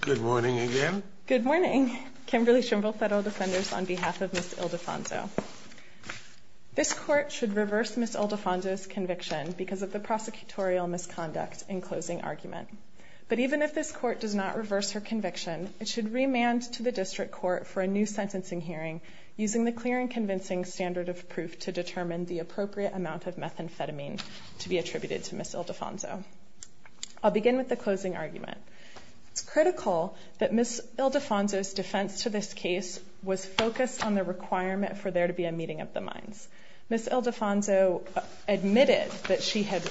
Good morning again. Good morning, Kimberly Schimble Federal Defenders, on behalf of Ms. Ildefonso. This Court should reverse Ms. Ildefonso's conviction because of the prosecutorial misconduct in closing argument. But even if this Court does not reverse her conviction, it should remand to the District Court for a new sentencing hearing using the clear and convincing standard of proof to determine the appropriate amount of methamphetamine to be attributed to Ms. Ildefonso. I'll begin with the closing argument. It's critical that Ms. Ildefonso's defense to this case was focused on the requirement for there to be a meeting of the minds. Ms. Ildefonso admitted that she had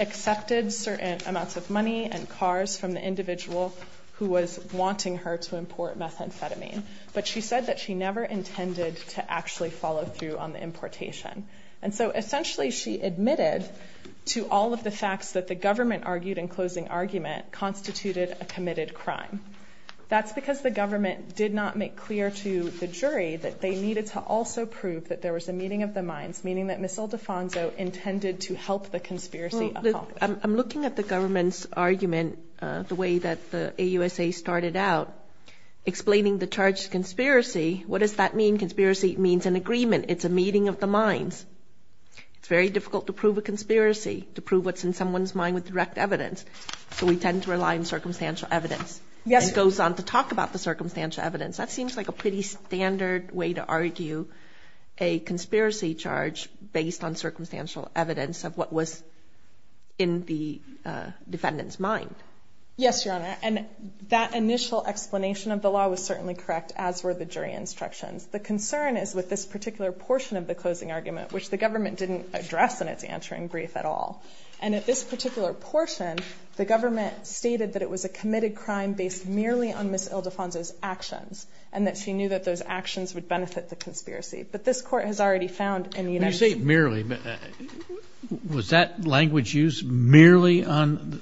accepted certain amounts of money and cars from the individual who was wanting her to import methamphetamine. But she said that she never intended to actually follow through on the importation. And so essentially she admitted to all of the facts that the government argued in closing argument constituted a committed crime. That's because the government did not make clear to the jury that they needed to also prove that there was a meeting of the minds, meaning that Ms. Ildefonso intended to help the conspiracy. I'm looking at the government's argument, the way that the AUSA started out, explaining the charged conspiracy. What does that mean? Conspiracy means an agreement. It's a meeting of the minds. It's very difficult to prove a conspiracy, to prove what's in someone's mind with direct evidence. So we tend to rely on circumstantial evidence. It goes on to talk about the circumstantial evidence. That seems like a pretty standard way to argue a conspiracy charge based on circumstantial evidence of what was in the defendant's mind. Yes, Your Honor. And that initial explanation of the law was certainly correct, as were the jury instructions. The concern is with this particular portion of the closing argument, which the government didn't address in its answering brief at all. And at this particular portion, the government stated that it was a committed crime based merely on Ms. Ildefonso's actions, and that she knew that those actions would benefit the conspiracy. But this Court has already found in the United States – When you say merely, was that language used merely on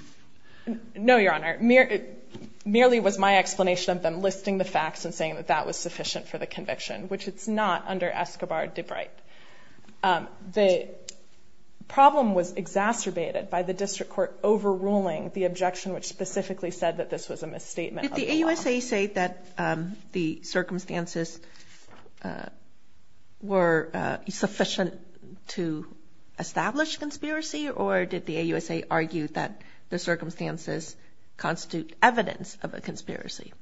– No, Your Honor. Merely was my explanation of them listing the facts and saying that that was sufficient for the conviction, which it's not under Escobar de Bright. The problem was exacerbated by the district court overruling the objection which specifically said that this was a misstatement of the law. Did the AUSA say that the circumstances were sufficient to establish conspiracy, or did the AUSA argue that the circumstances constitute evidence of a conspiracy?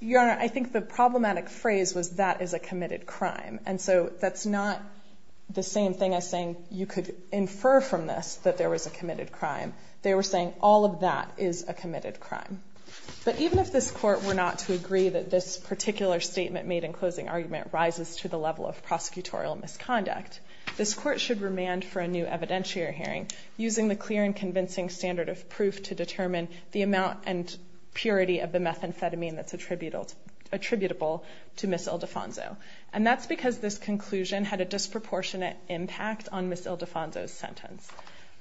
Your Honor, I think the problematic phrase was, that is a committed crime. And so that's not the same thing as saying you could infer from this that there was a committed crime. They were saying all of that is a committed crime. But even if this Court were not to agree that this particular statement made in closing argument rises to the level of prosecutorial misconduct, this Court should remand for a new evidentiary hearing using the clear and convincing standard of proof to determine the amount and purity of the methamphetamine that's attributable to Ms. Ildefonso. And that's because this conclusion had a disproportionate impact on Ms. Ildefonso's sentence.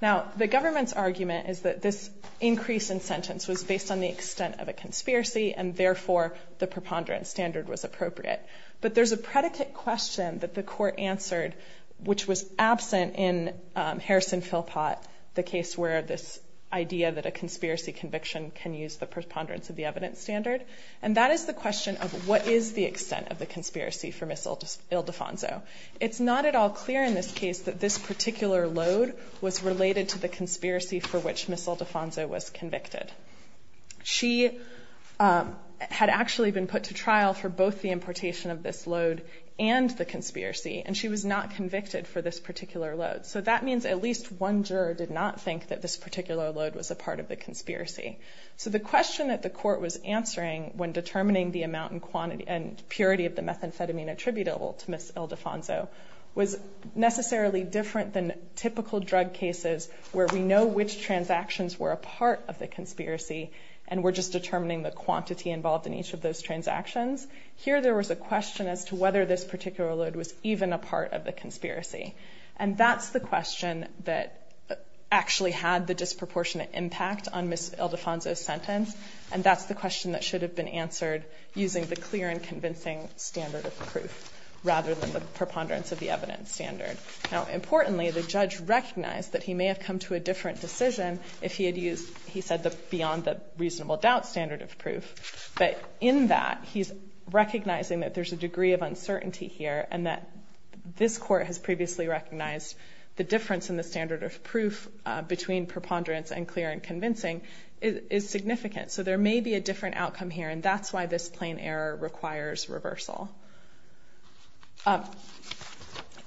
Now, the government's argument is that this increase in sentence was based on the extent of a conspiracy, and therefore the preponderance standard was appropriate. But there's a predicate question that the Court answered, which was absent in Harrison-Philpott, the case where this idea that a conspiracy conviction can use the preponderance of the evidence standard. And that is the question of what is the extent of the conspiracy for Ms. Ildefonso. It's not at all clear in this case that this particular load was related to the conspiracy for which Ms. Ildefonso was convicted. She had actually been put to trial for both the importation of this load and the conspiracy, and she was not convicted for this particular load. So that means at least one juror did not think that this particular load was a part of the conspiracy. So the question that the Court was answering when determining the amount and purity of the methamphetamine attributable to Ms. Ildefonso was necessarily different than typical drug cases where we know which transactions were a part of the conspiracy and we're just determining the quantity involved in each of those transactions. Here there was a question as to whether this particular load was even a part of the conspiracy. And that's the question that actually had the disproportionate impact on Ms. Ildefonso's sentence, and that's the question that should have been answered using the clear and convincing standard of proof rather than the preponderance of the evidence standard. Now, importantly, the judge recognized that he may have come to a different decision if he had used, he said, beyond the reasonable doubt standard of proof. But in that, he's recognizing that there's a degree of uncertainty here and that this Court has previously recognized the difference in the standard of proof between preponderance and clear and convincing is significant. So there may be a different outcome here, and that's why this plain error requires reversal.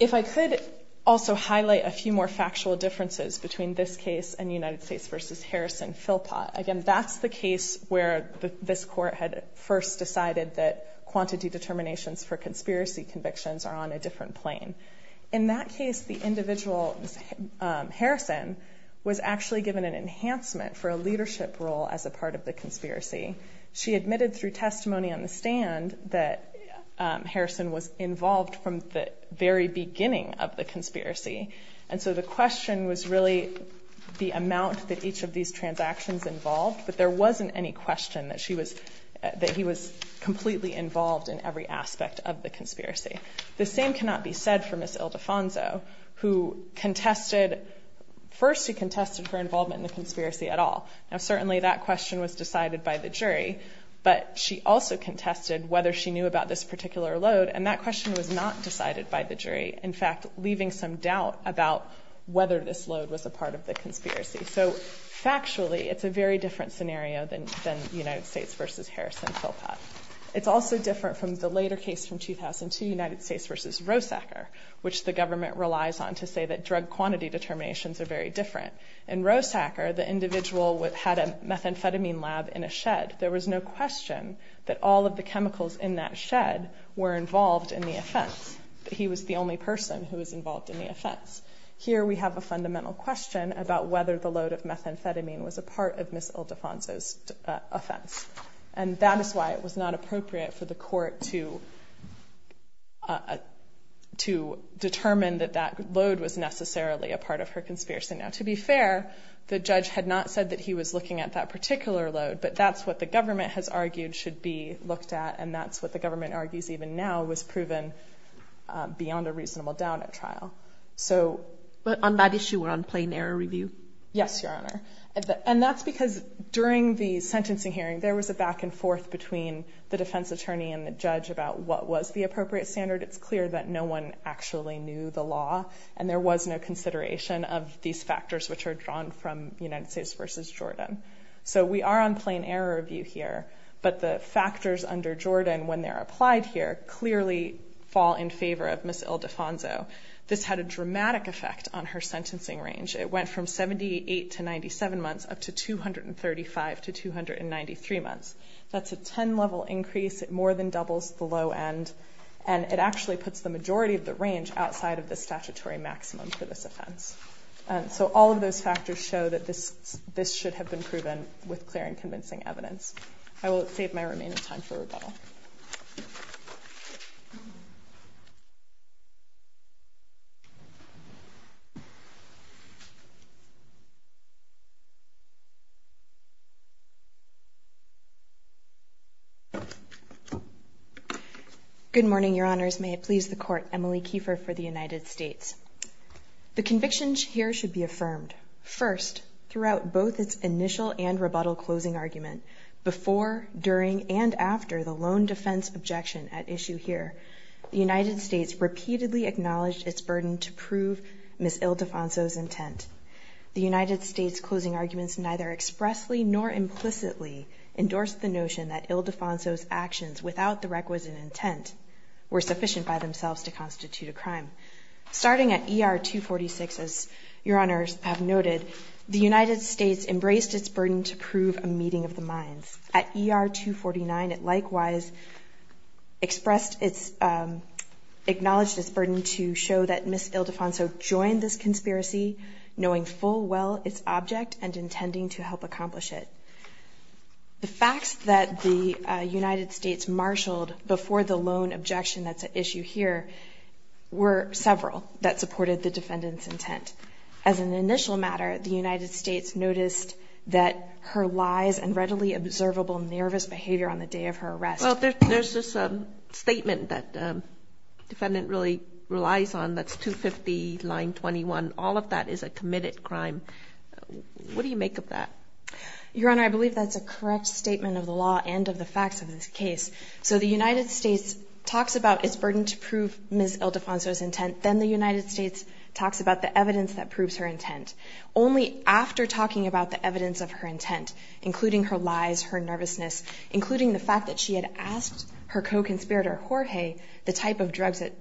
If I could also highlight a few more factual differences between this case and United States v. Harrison-Philpott. Again, that's the case where this Court had first decided that quantity determinations for conspiracy convictions are on a different plane. In that case, the individual, Ms. Harrison, was actually given an enhancement for a leadership role as a part of the conspiracy. She admitted through testimony on the stand that Harrison was involved from the very beginning of the conspiracy. And so the question was really the amount that each of these transactions involved, but there wasn't any question that he was completely involved in every aspect of the conspiracy. The same cannot be said for Ms. Ildefonso, who contested, first she contested her involvement in the conspiracy at all. Now, certainly that question was decided by the jury, but she also contested whether she knew about this particular load, and that question was not decided by the jury, in fact, leaving some doubt about whether this load was a part of the conspiracy. So factually, it's a very different scenario than United States v. Harrison-Philpott. It's also different from the later case from 2002, United States v. Rosacker, which the government relies on to say that drug quantity determinations are very different. In Rosacker, the individual had a methamphetamine lab in a shed. There was no question that all of the chemicals in that shed were involved in the offense. He was the only person who was involved in the offense. Here we have a fundamental question about whether the load of methamphetamine was a part of Ms. Ildefonso's offense, and that is why it was not appropriate for the court to determine that that load was necessarily a part of her conspiracy. Now, to be fair, the judge had not said that he was looking at that particular load, but that's what the government has argued should be looked at, and that's what the government argues even now was proven beyond a reasonable doubt at trial. But on that issue or on plain error review? Yes, Your Honor. And that's because during the sentencing hearing, there was a back and forth between the defense attorney and the judge about what was the appropriate standard. It's clear that no one actually knew the law, and there was no consideration of these factors which are drawn from United States v. Jordan. So we are on plain error review here, but the factors under Jordan, when they're applied here, clearly fall in favor of Ms. Ildefonso. This had a dramatic effect on her sentencing range. It went from 78 to 97 months up to 235 to 293 months. That's a 10-level increase. It more than doubles the low end, and it actually puts the majority of the range outside of the statutory maximum for this offense. So all of those factors show that this should have been proven with clear and convincing evidence. I will save my remaining time for rebuttal. Good morning, Your Honors. May it please the Court. Emily Kiefer for the United States. The convictions here should be affirmed. First, throughout both its initial and rebuttal closing argument, before, during, and after the lone defense objection at issue here, the United States repeatedly acknowledged its burden to prove Ms. Ildefonso's intent. The United States closing arguments neither expressly nor implicitly endorsed the notion that Ildefonso's actions without the requisite intent were sufficient by themselves to constitute a crime. Starting at ER 246, as Your Honors have noted, the United States embraced its burden to prove a meeting of the minds. At ER 249, it likewise acknowledged its burden to show that Ms. Ildefonso joined this conspiracy, knowing full well its object and intending to help accomplish it. The facts that the United States marshaled before the lone objection at issue here were several that supported the defendant's intent. As an initial matter, the United States noticed that her lies and readily observable nervous behavior on the day of her arrest. Well, there's this statement that the defendant really relies on that's 250 line 21. All of that is a committed crime. What do you make of that? Your Honor, I believe that's a correct statement of the law and of the facts of this case. So the United States talks about its burden to prove Ms. Ildefonso's intent. Then the United States talks about the evidence that proves her intent. Only after talking about the evidence of her intent, including her lies, her nervousness, including the fact that she had asked her co-conspirator, Jorge, the type of drugs that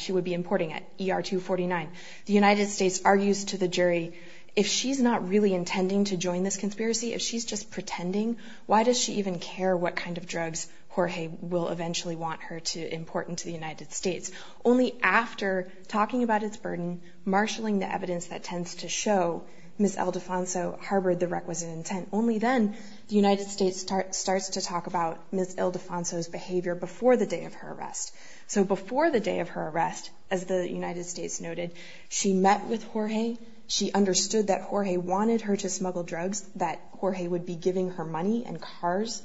she would be importing at ER 249, the United States argues to the jury, if she's not really intending to join this conspiracy, if she's just pretending, why does she even care what kind of drugs Jorge will eventually want her to import into the United States? Only after talking about its burden, marshaling the evidence that tends to show Ms. Ildefonso harbored the requisite intent, only then the United States starts to talk about Ms. Ildefonso's behavior before the day of her arrest. So before the day of her arrest, as the United States noted, she met with Jorge. She understood that Jorge wanted her to smuggle drugs, that Jorge would be giving her money and cars.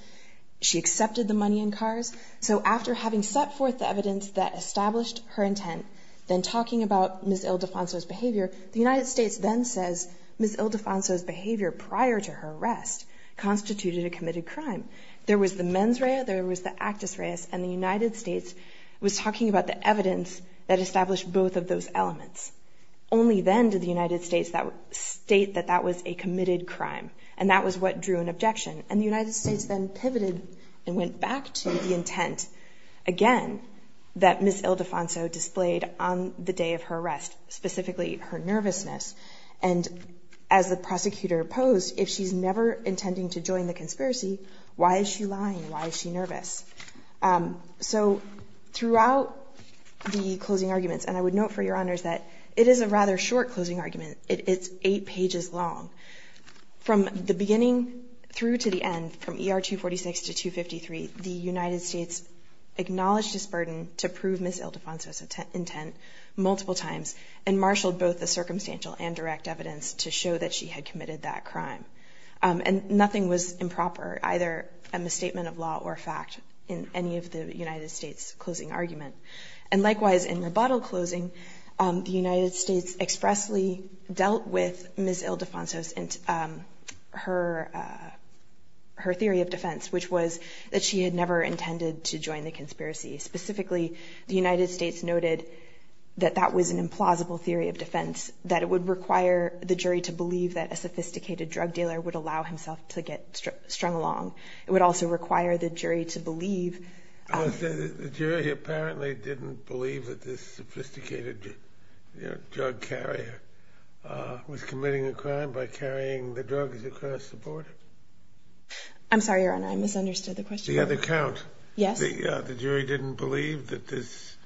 She accepted the money and cars. So after having set forth the evidence that established her intent, then talking about Ms. Ildefonso's behavior, the United States then says, Ms. Ildefonso's behavior prior to her arrest constituted a committed crime. There was the mens rea, there was the actus reus, and the United States was talking about the evidence that established both of those elements. Only then did the United States state that that was a committed crime, and that was what drew an objection. And the United States then pivoted and went back to the intent, again, that Ms. Ildefonso displayed on the day of her arrest, specifically her nervousness. And as the prosecutor posed, if she's never intending to join the conspiracy, why is she lying? Why is she nervous? So throughout the closing arguments, and I would note for your honors that it is a rather short closing argument. It's eight pages long. From the beginning through to the end, from ER 246 to 253, the United States acknowledged its burden to prove Ms. Ildefonso's intent multiple times and marshaled both the circumstantial and direct evidence to show that she had committed that crime. And nothing was improper, either a misstatement of law or a fact, in any of the United States' closing argument. And likewise, in rebuttal closing, the United States expressly dealt with Ms. Ildefonso's and her theory of defense, which was that she had never intended to join the conspiracy. Specifically, the United States noted that that was an implausible theory of defense, that it would require the jury to believe that a sophisticated drug dealer would allow himself to get strung along. It would also require the jury to believe. The jury apparently didn't believe that this sophisticated drug carrier was committing a crime by carrying the drugs across the border. I'm sorry, Your Honor, I misunderstood the question. The other count. Yes. The jury didn't believe that this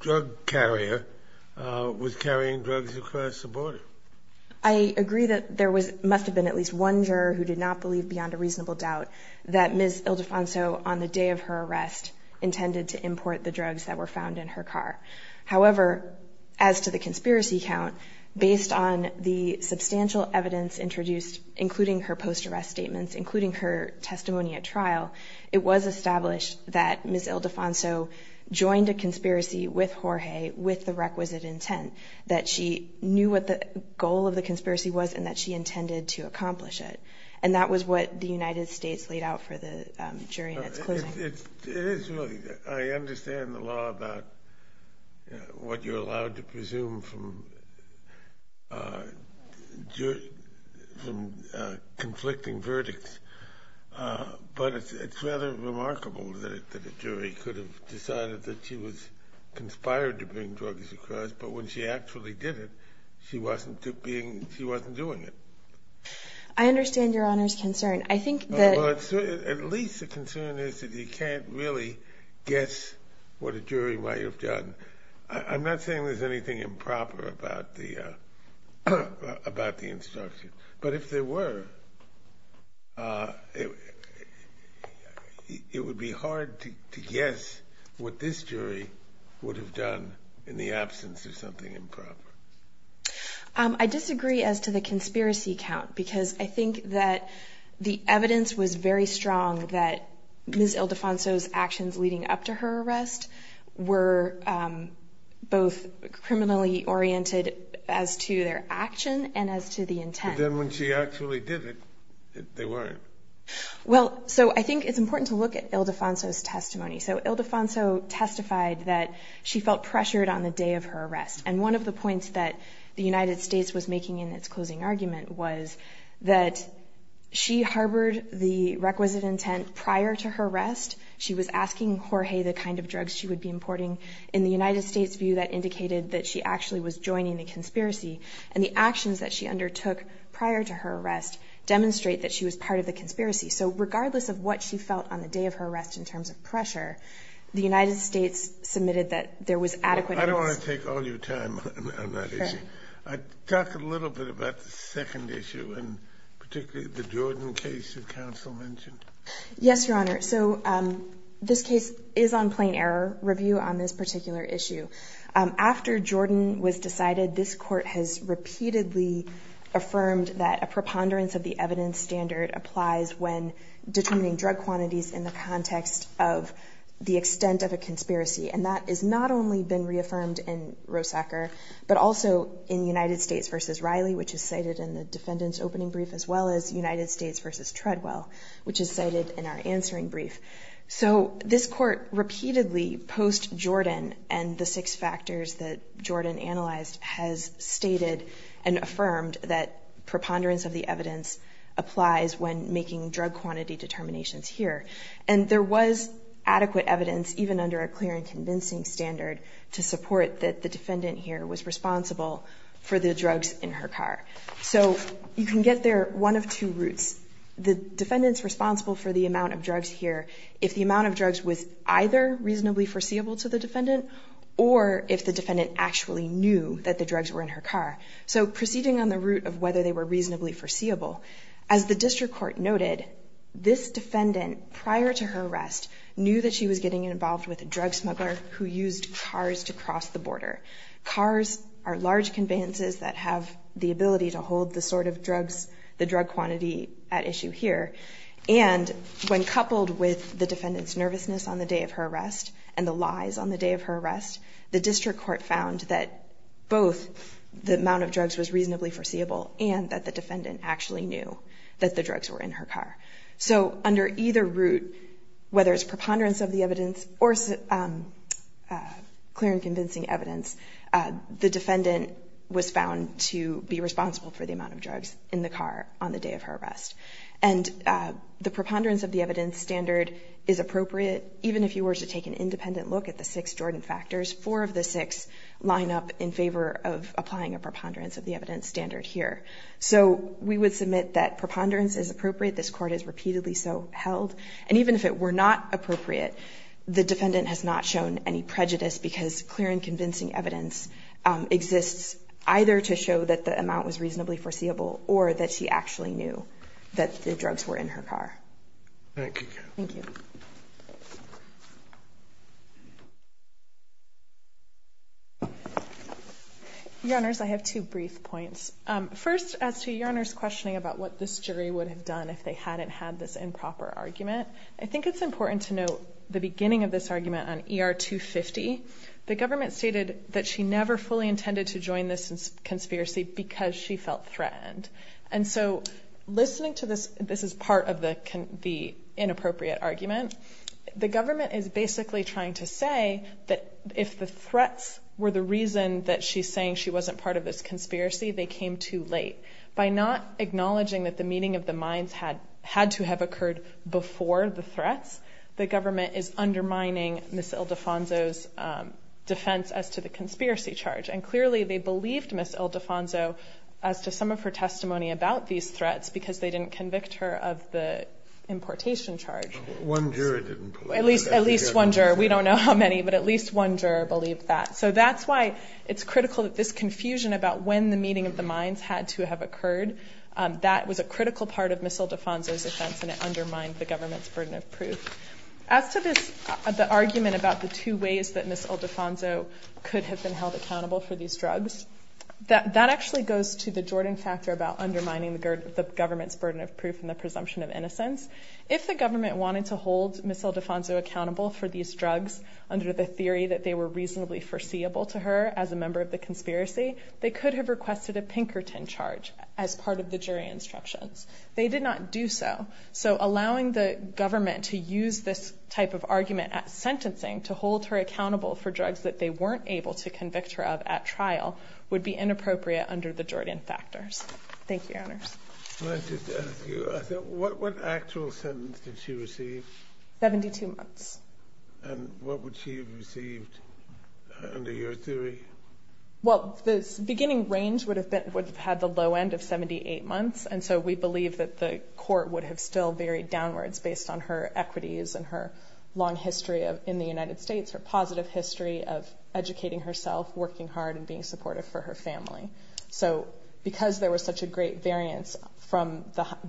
drug carrier was carrying drugs across the border. I agree that there must have been at least one juror who did not believe beyond a reasonable doubt that Ms. Ildefonso, on the day of her arrest, intended to import the drugs that were found in her car. However, as to the conspiracy count, based on the substantial evidence introduced, including her post-arrest statements, including her testimony at trial, it was established that Ms. Ildefonso joined a conspiracy with Jorge with the requisite intent, that she knew what the goal of the conspiracy was and that she intended to accomplish it. And that was what the United States laid out for the jury in its closing. It is really. I understand the law about what you're allowed to presume from conflicting verdicts, but it's rather remarkable that a jury could have decided that she was conspired to bring drugs across, but when she actually did it, she wasn't doing it. I understand Your Honor's concern. At least the concern is that you can't really guess what a jury might have done. I'm not saying there's anything improper about the instruction, but if there were, it would be hard to guess what this jury would have done in the absence of something improper. I disagree as to the conspiracy count, because I think that the evidence was very strong that Ms. Ildefonso's actions leading up to her arrest were both criminally oriented as to their action and as to the intent. But then when she actually did it, they weren't. Well, so I think it's important to look at Ildefonso's testimony. So Ildefonso testified that she felt pressured on the day of her arrest, and one of the points that the United States was making in its closing argument was that she harbored the requisite intent prior to her arrest. She was asking Jorge the kind of drugs she would be importing. In the United States' view, that indicated that she actually was joining the conspiracy, and the actions that she undertook prior to her arrest demonstrate that she was part of the conspiracy. So regardless of what she felt on the day of her arrest in terms of pressure, the United States submitted that there was adequate evidence. I don't want to take all your time on that issue. Talk a little bit about the second issue, and particularly the Jordan case that counsel mentioned. Yes, Your Honor. So this case is on plain error review on this particular issue. After Jordan was decided, this court has repeatedly affirmed that a preponderance of the evidence standard applies when determining drug quantities in the context of the extent of a conspiracy, and that has not only been reaffirmed in Rosacker, but also in United States v. Riley, which is cited in the defendant's opening brief, as well as United States v. Treadwell, which is cited in our answering brief. So this court repeatedly, post-Jordan and the six factors that Jordan analyzed, has stated and affirmed that preponderance of the evidence applies when making drug quantity determinations here, and there was adequate evidence, even under a clear and convincing standard, to support that the defendant here was responsible for the drugs in her car. So you can get there one of two routes. The defendant's responsible for the amount of drugs here if the amount of drugs was either reasonably foreseeable to the defendant or if the defendant actually knew that the drugs were in her car. So proceeding on the route of whether they were reasonably foreseeable, as the district court noted, this defendant, prior to her arrest, knew that she was getting involved with a drug smuggler who used cars to cross the border. Cars are large conveyances that have the ability to hold the sort of drugs, the drug quantity at issue here, and when coupled with the defendant's nervousness on the day of her arrest and the lies on the day of her arrest, the district court found that both the amount of drugs was reasonably foreseeable and that the defendant actually knew that the drugs were in her car. So under either route, whether it's preponderance of the evidence or clear and convincing evidence, the defendant was found to be responsible for the amount of drugs in the car on the day of her arrest. And the preponderance of the evidence standard is appropriate. Even if you were to take an independent look at the six Jordan factors, four of the six line up in favor of applying a preponderance of the evidence standard here. So we would submit that preponderance is appropriate. This Court has repeatedly so held. And even if it were not appropriate, the defendant has not shown any prejudice because clear and convincing evidence exists either to show that the amount was reasonably foreseeable or that she actually knew that the drugs were in her car. Thank you. Thank you. Your Honors, I have two brief points. First, as to your Honor's questioning about what this jury would have done if they hadn't had this improper argument, I think it's important to note the beginning of this argument on ER 250. The government stated that she never fully intended to join this conspiracy because she felt threatened. And so listening to this, this is part of the inappropriate argument. The government is basically trying to say that if the threats were the reason that she's saying she wasn't part of this conspiracy, they came too late. By not acknowledging that the meeting of the minds had to have occurred before the threats, the government is undermining Ms. Ildefonso's defense as to the conspiracy charge. And clearly they believed Ms. Ildefonso as to some of her testimony about these threats because they didn't convict her of the importation charge. One juror didn't believe that. At least one juror. We don't know how many, but at least one juror believed that. So that's why it's critical that this confusion about when the meeting of the minds had to have occurred, that was a critical part of Ms. Ildefonso's defense, and it undermined the government's burden of proof. As to the argument about the two ways that Ms. Ildefonso could have been held accountable for these drugs, that actually goes to the Jordan factor about undermining the government's burden of proof and the presumption of innocence. If the government wanted to hold Ms. Ildefonso accountable for these drugs under the theory that they were reasonably foreseeable to her as a member of the conspiracy, they could have requested a Pinkerton charge as part of the jury instructions. They did not do so. So allowing the government to use this type of argument at sentencing to hold her accountable for drugs that they weren't able to convict her of at trial would be inappropriate under the Jordan factors. Thank you, Your Honors. May I just ask you, what actual sentence did she receive? Seventy-two months. And what would she have received under your theory? Well, the beginning range would have had the low end of 78 months, and so we believe that the court would have still varied downwards based on her equities and her long history in the United States, her positive history of educating herself, working hard, and being supportive for her family. So because there was such a great variance from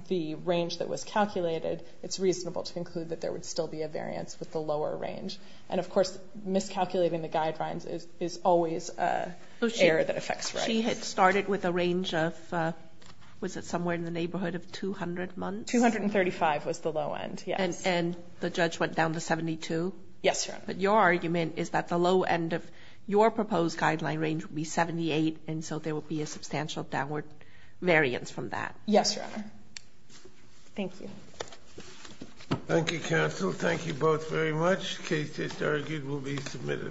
the range that was calculated, it's reasonable to conclude that there would still be a variance with the lower range. And, of course, miscalculating the guidelines is always an error that affects rights. She had started with a range of, was it somewhere in the neighborhood of 200 months? 235 was the low end, yes. And the judge went down to 72? Yes, Your Honor. But your argument is that the low end of your proposed guideline range would be 78, and so there would be a substantial downward variance from that. Yes, Your Honor. Thank you. Thank you, counsel. Thank you both very much. The case, as argued, will be submitted.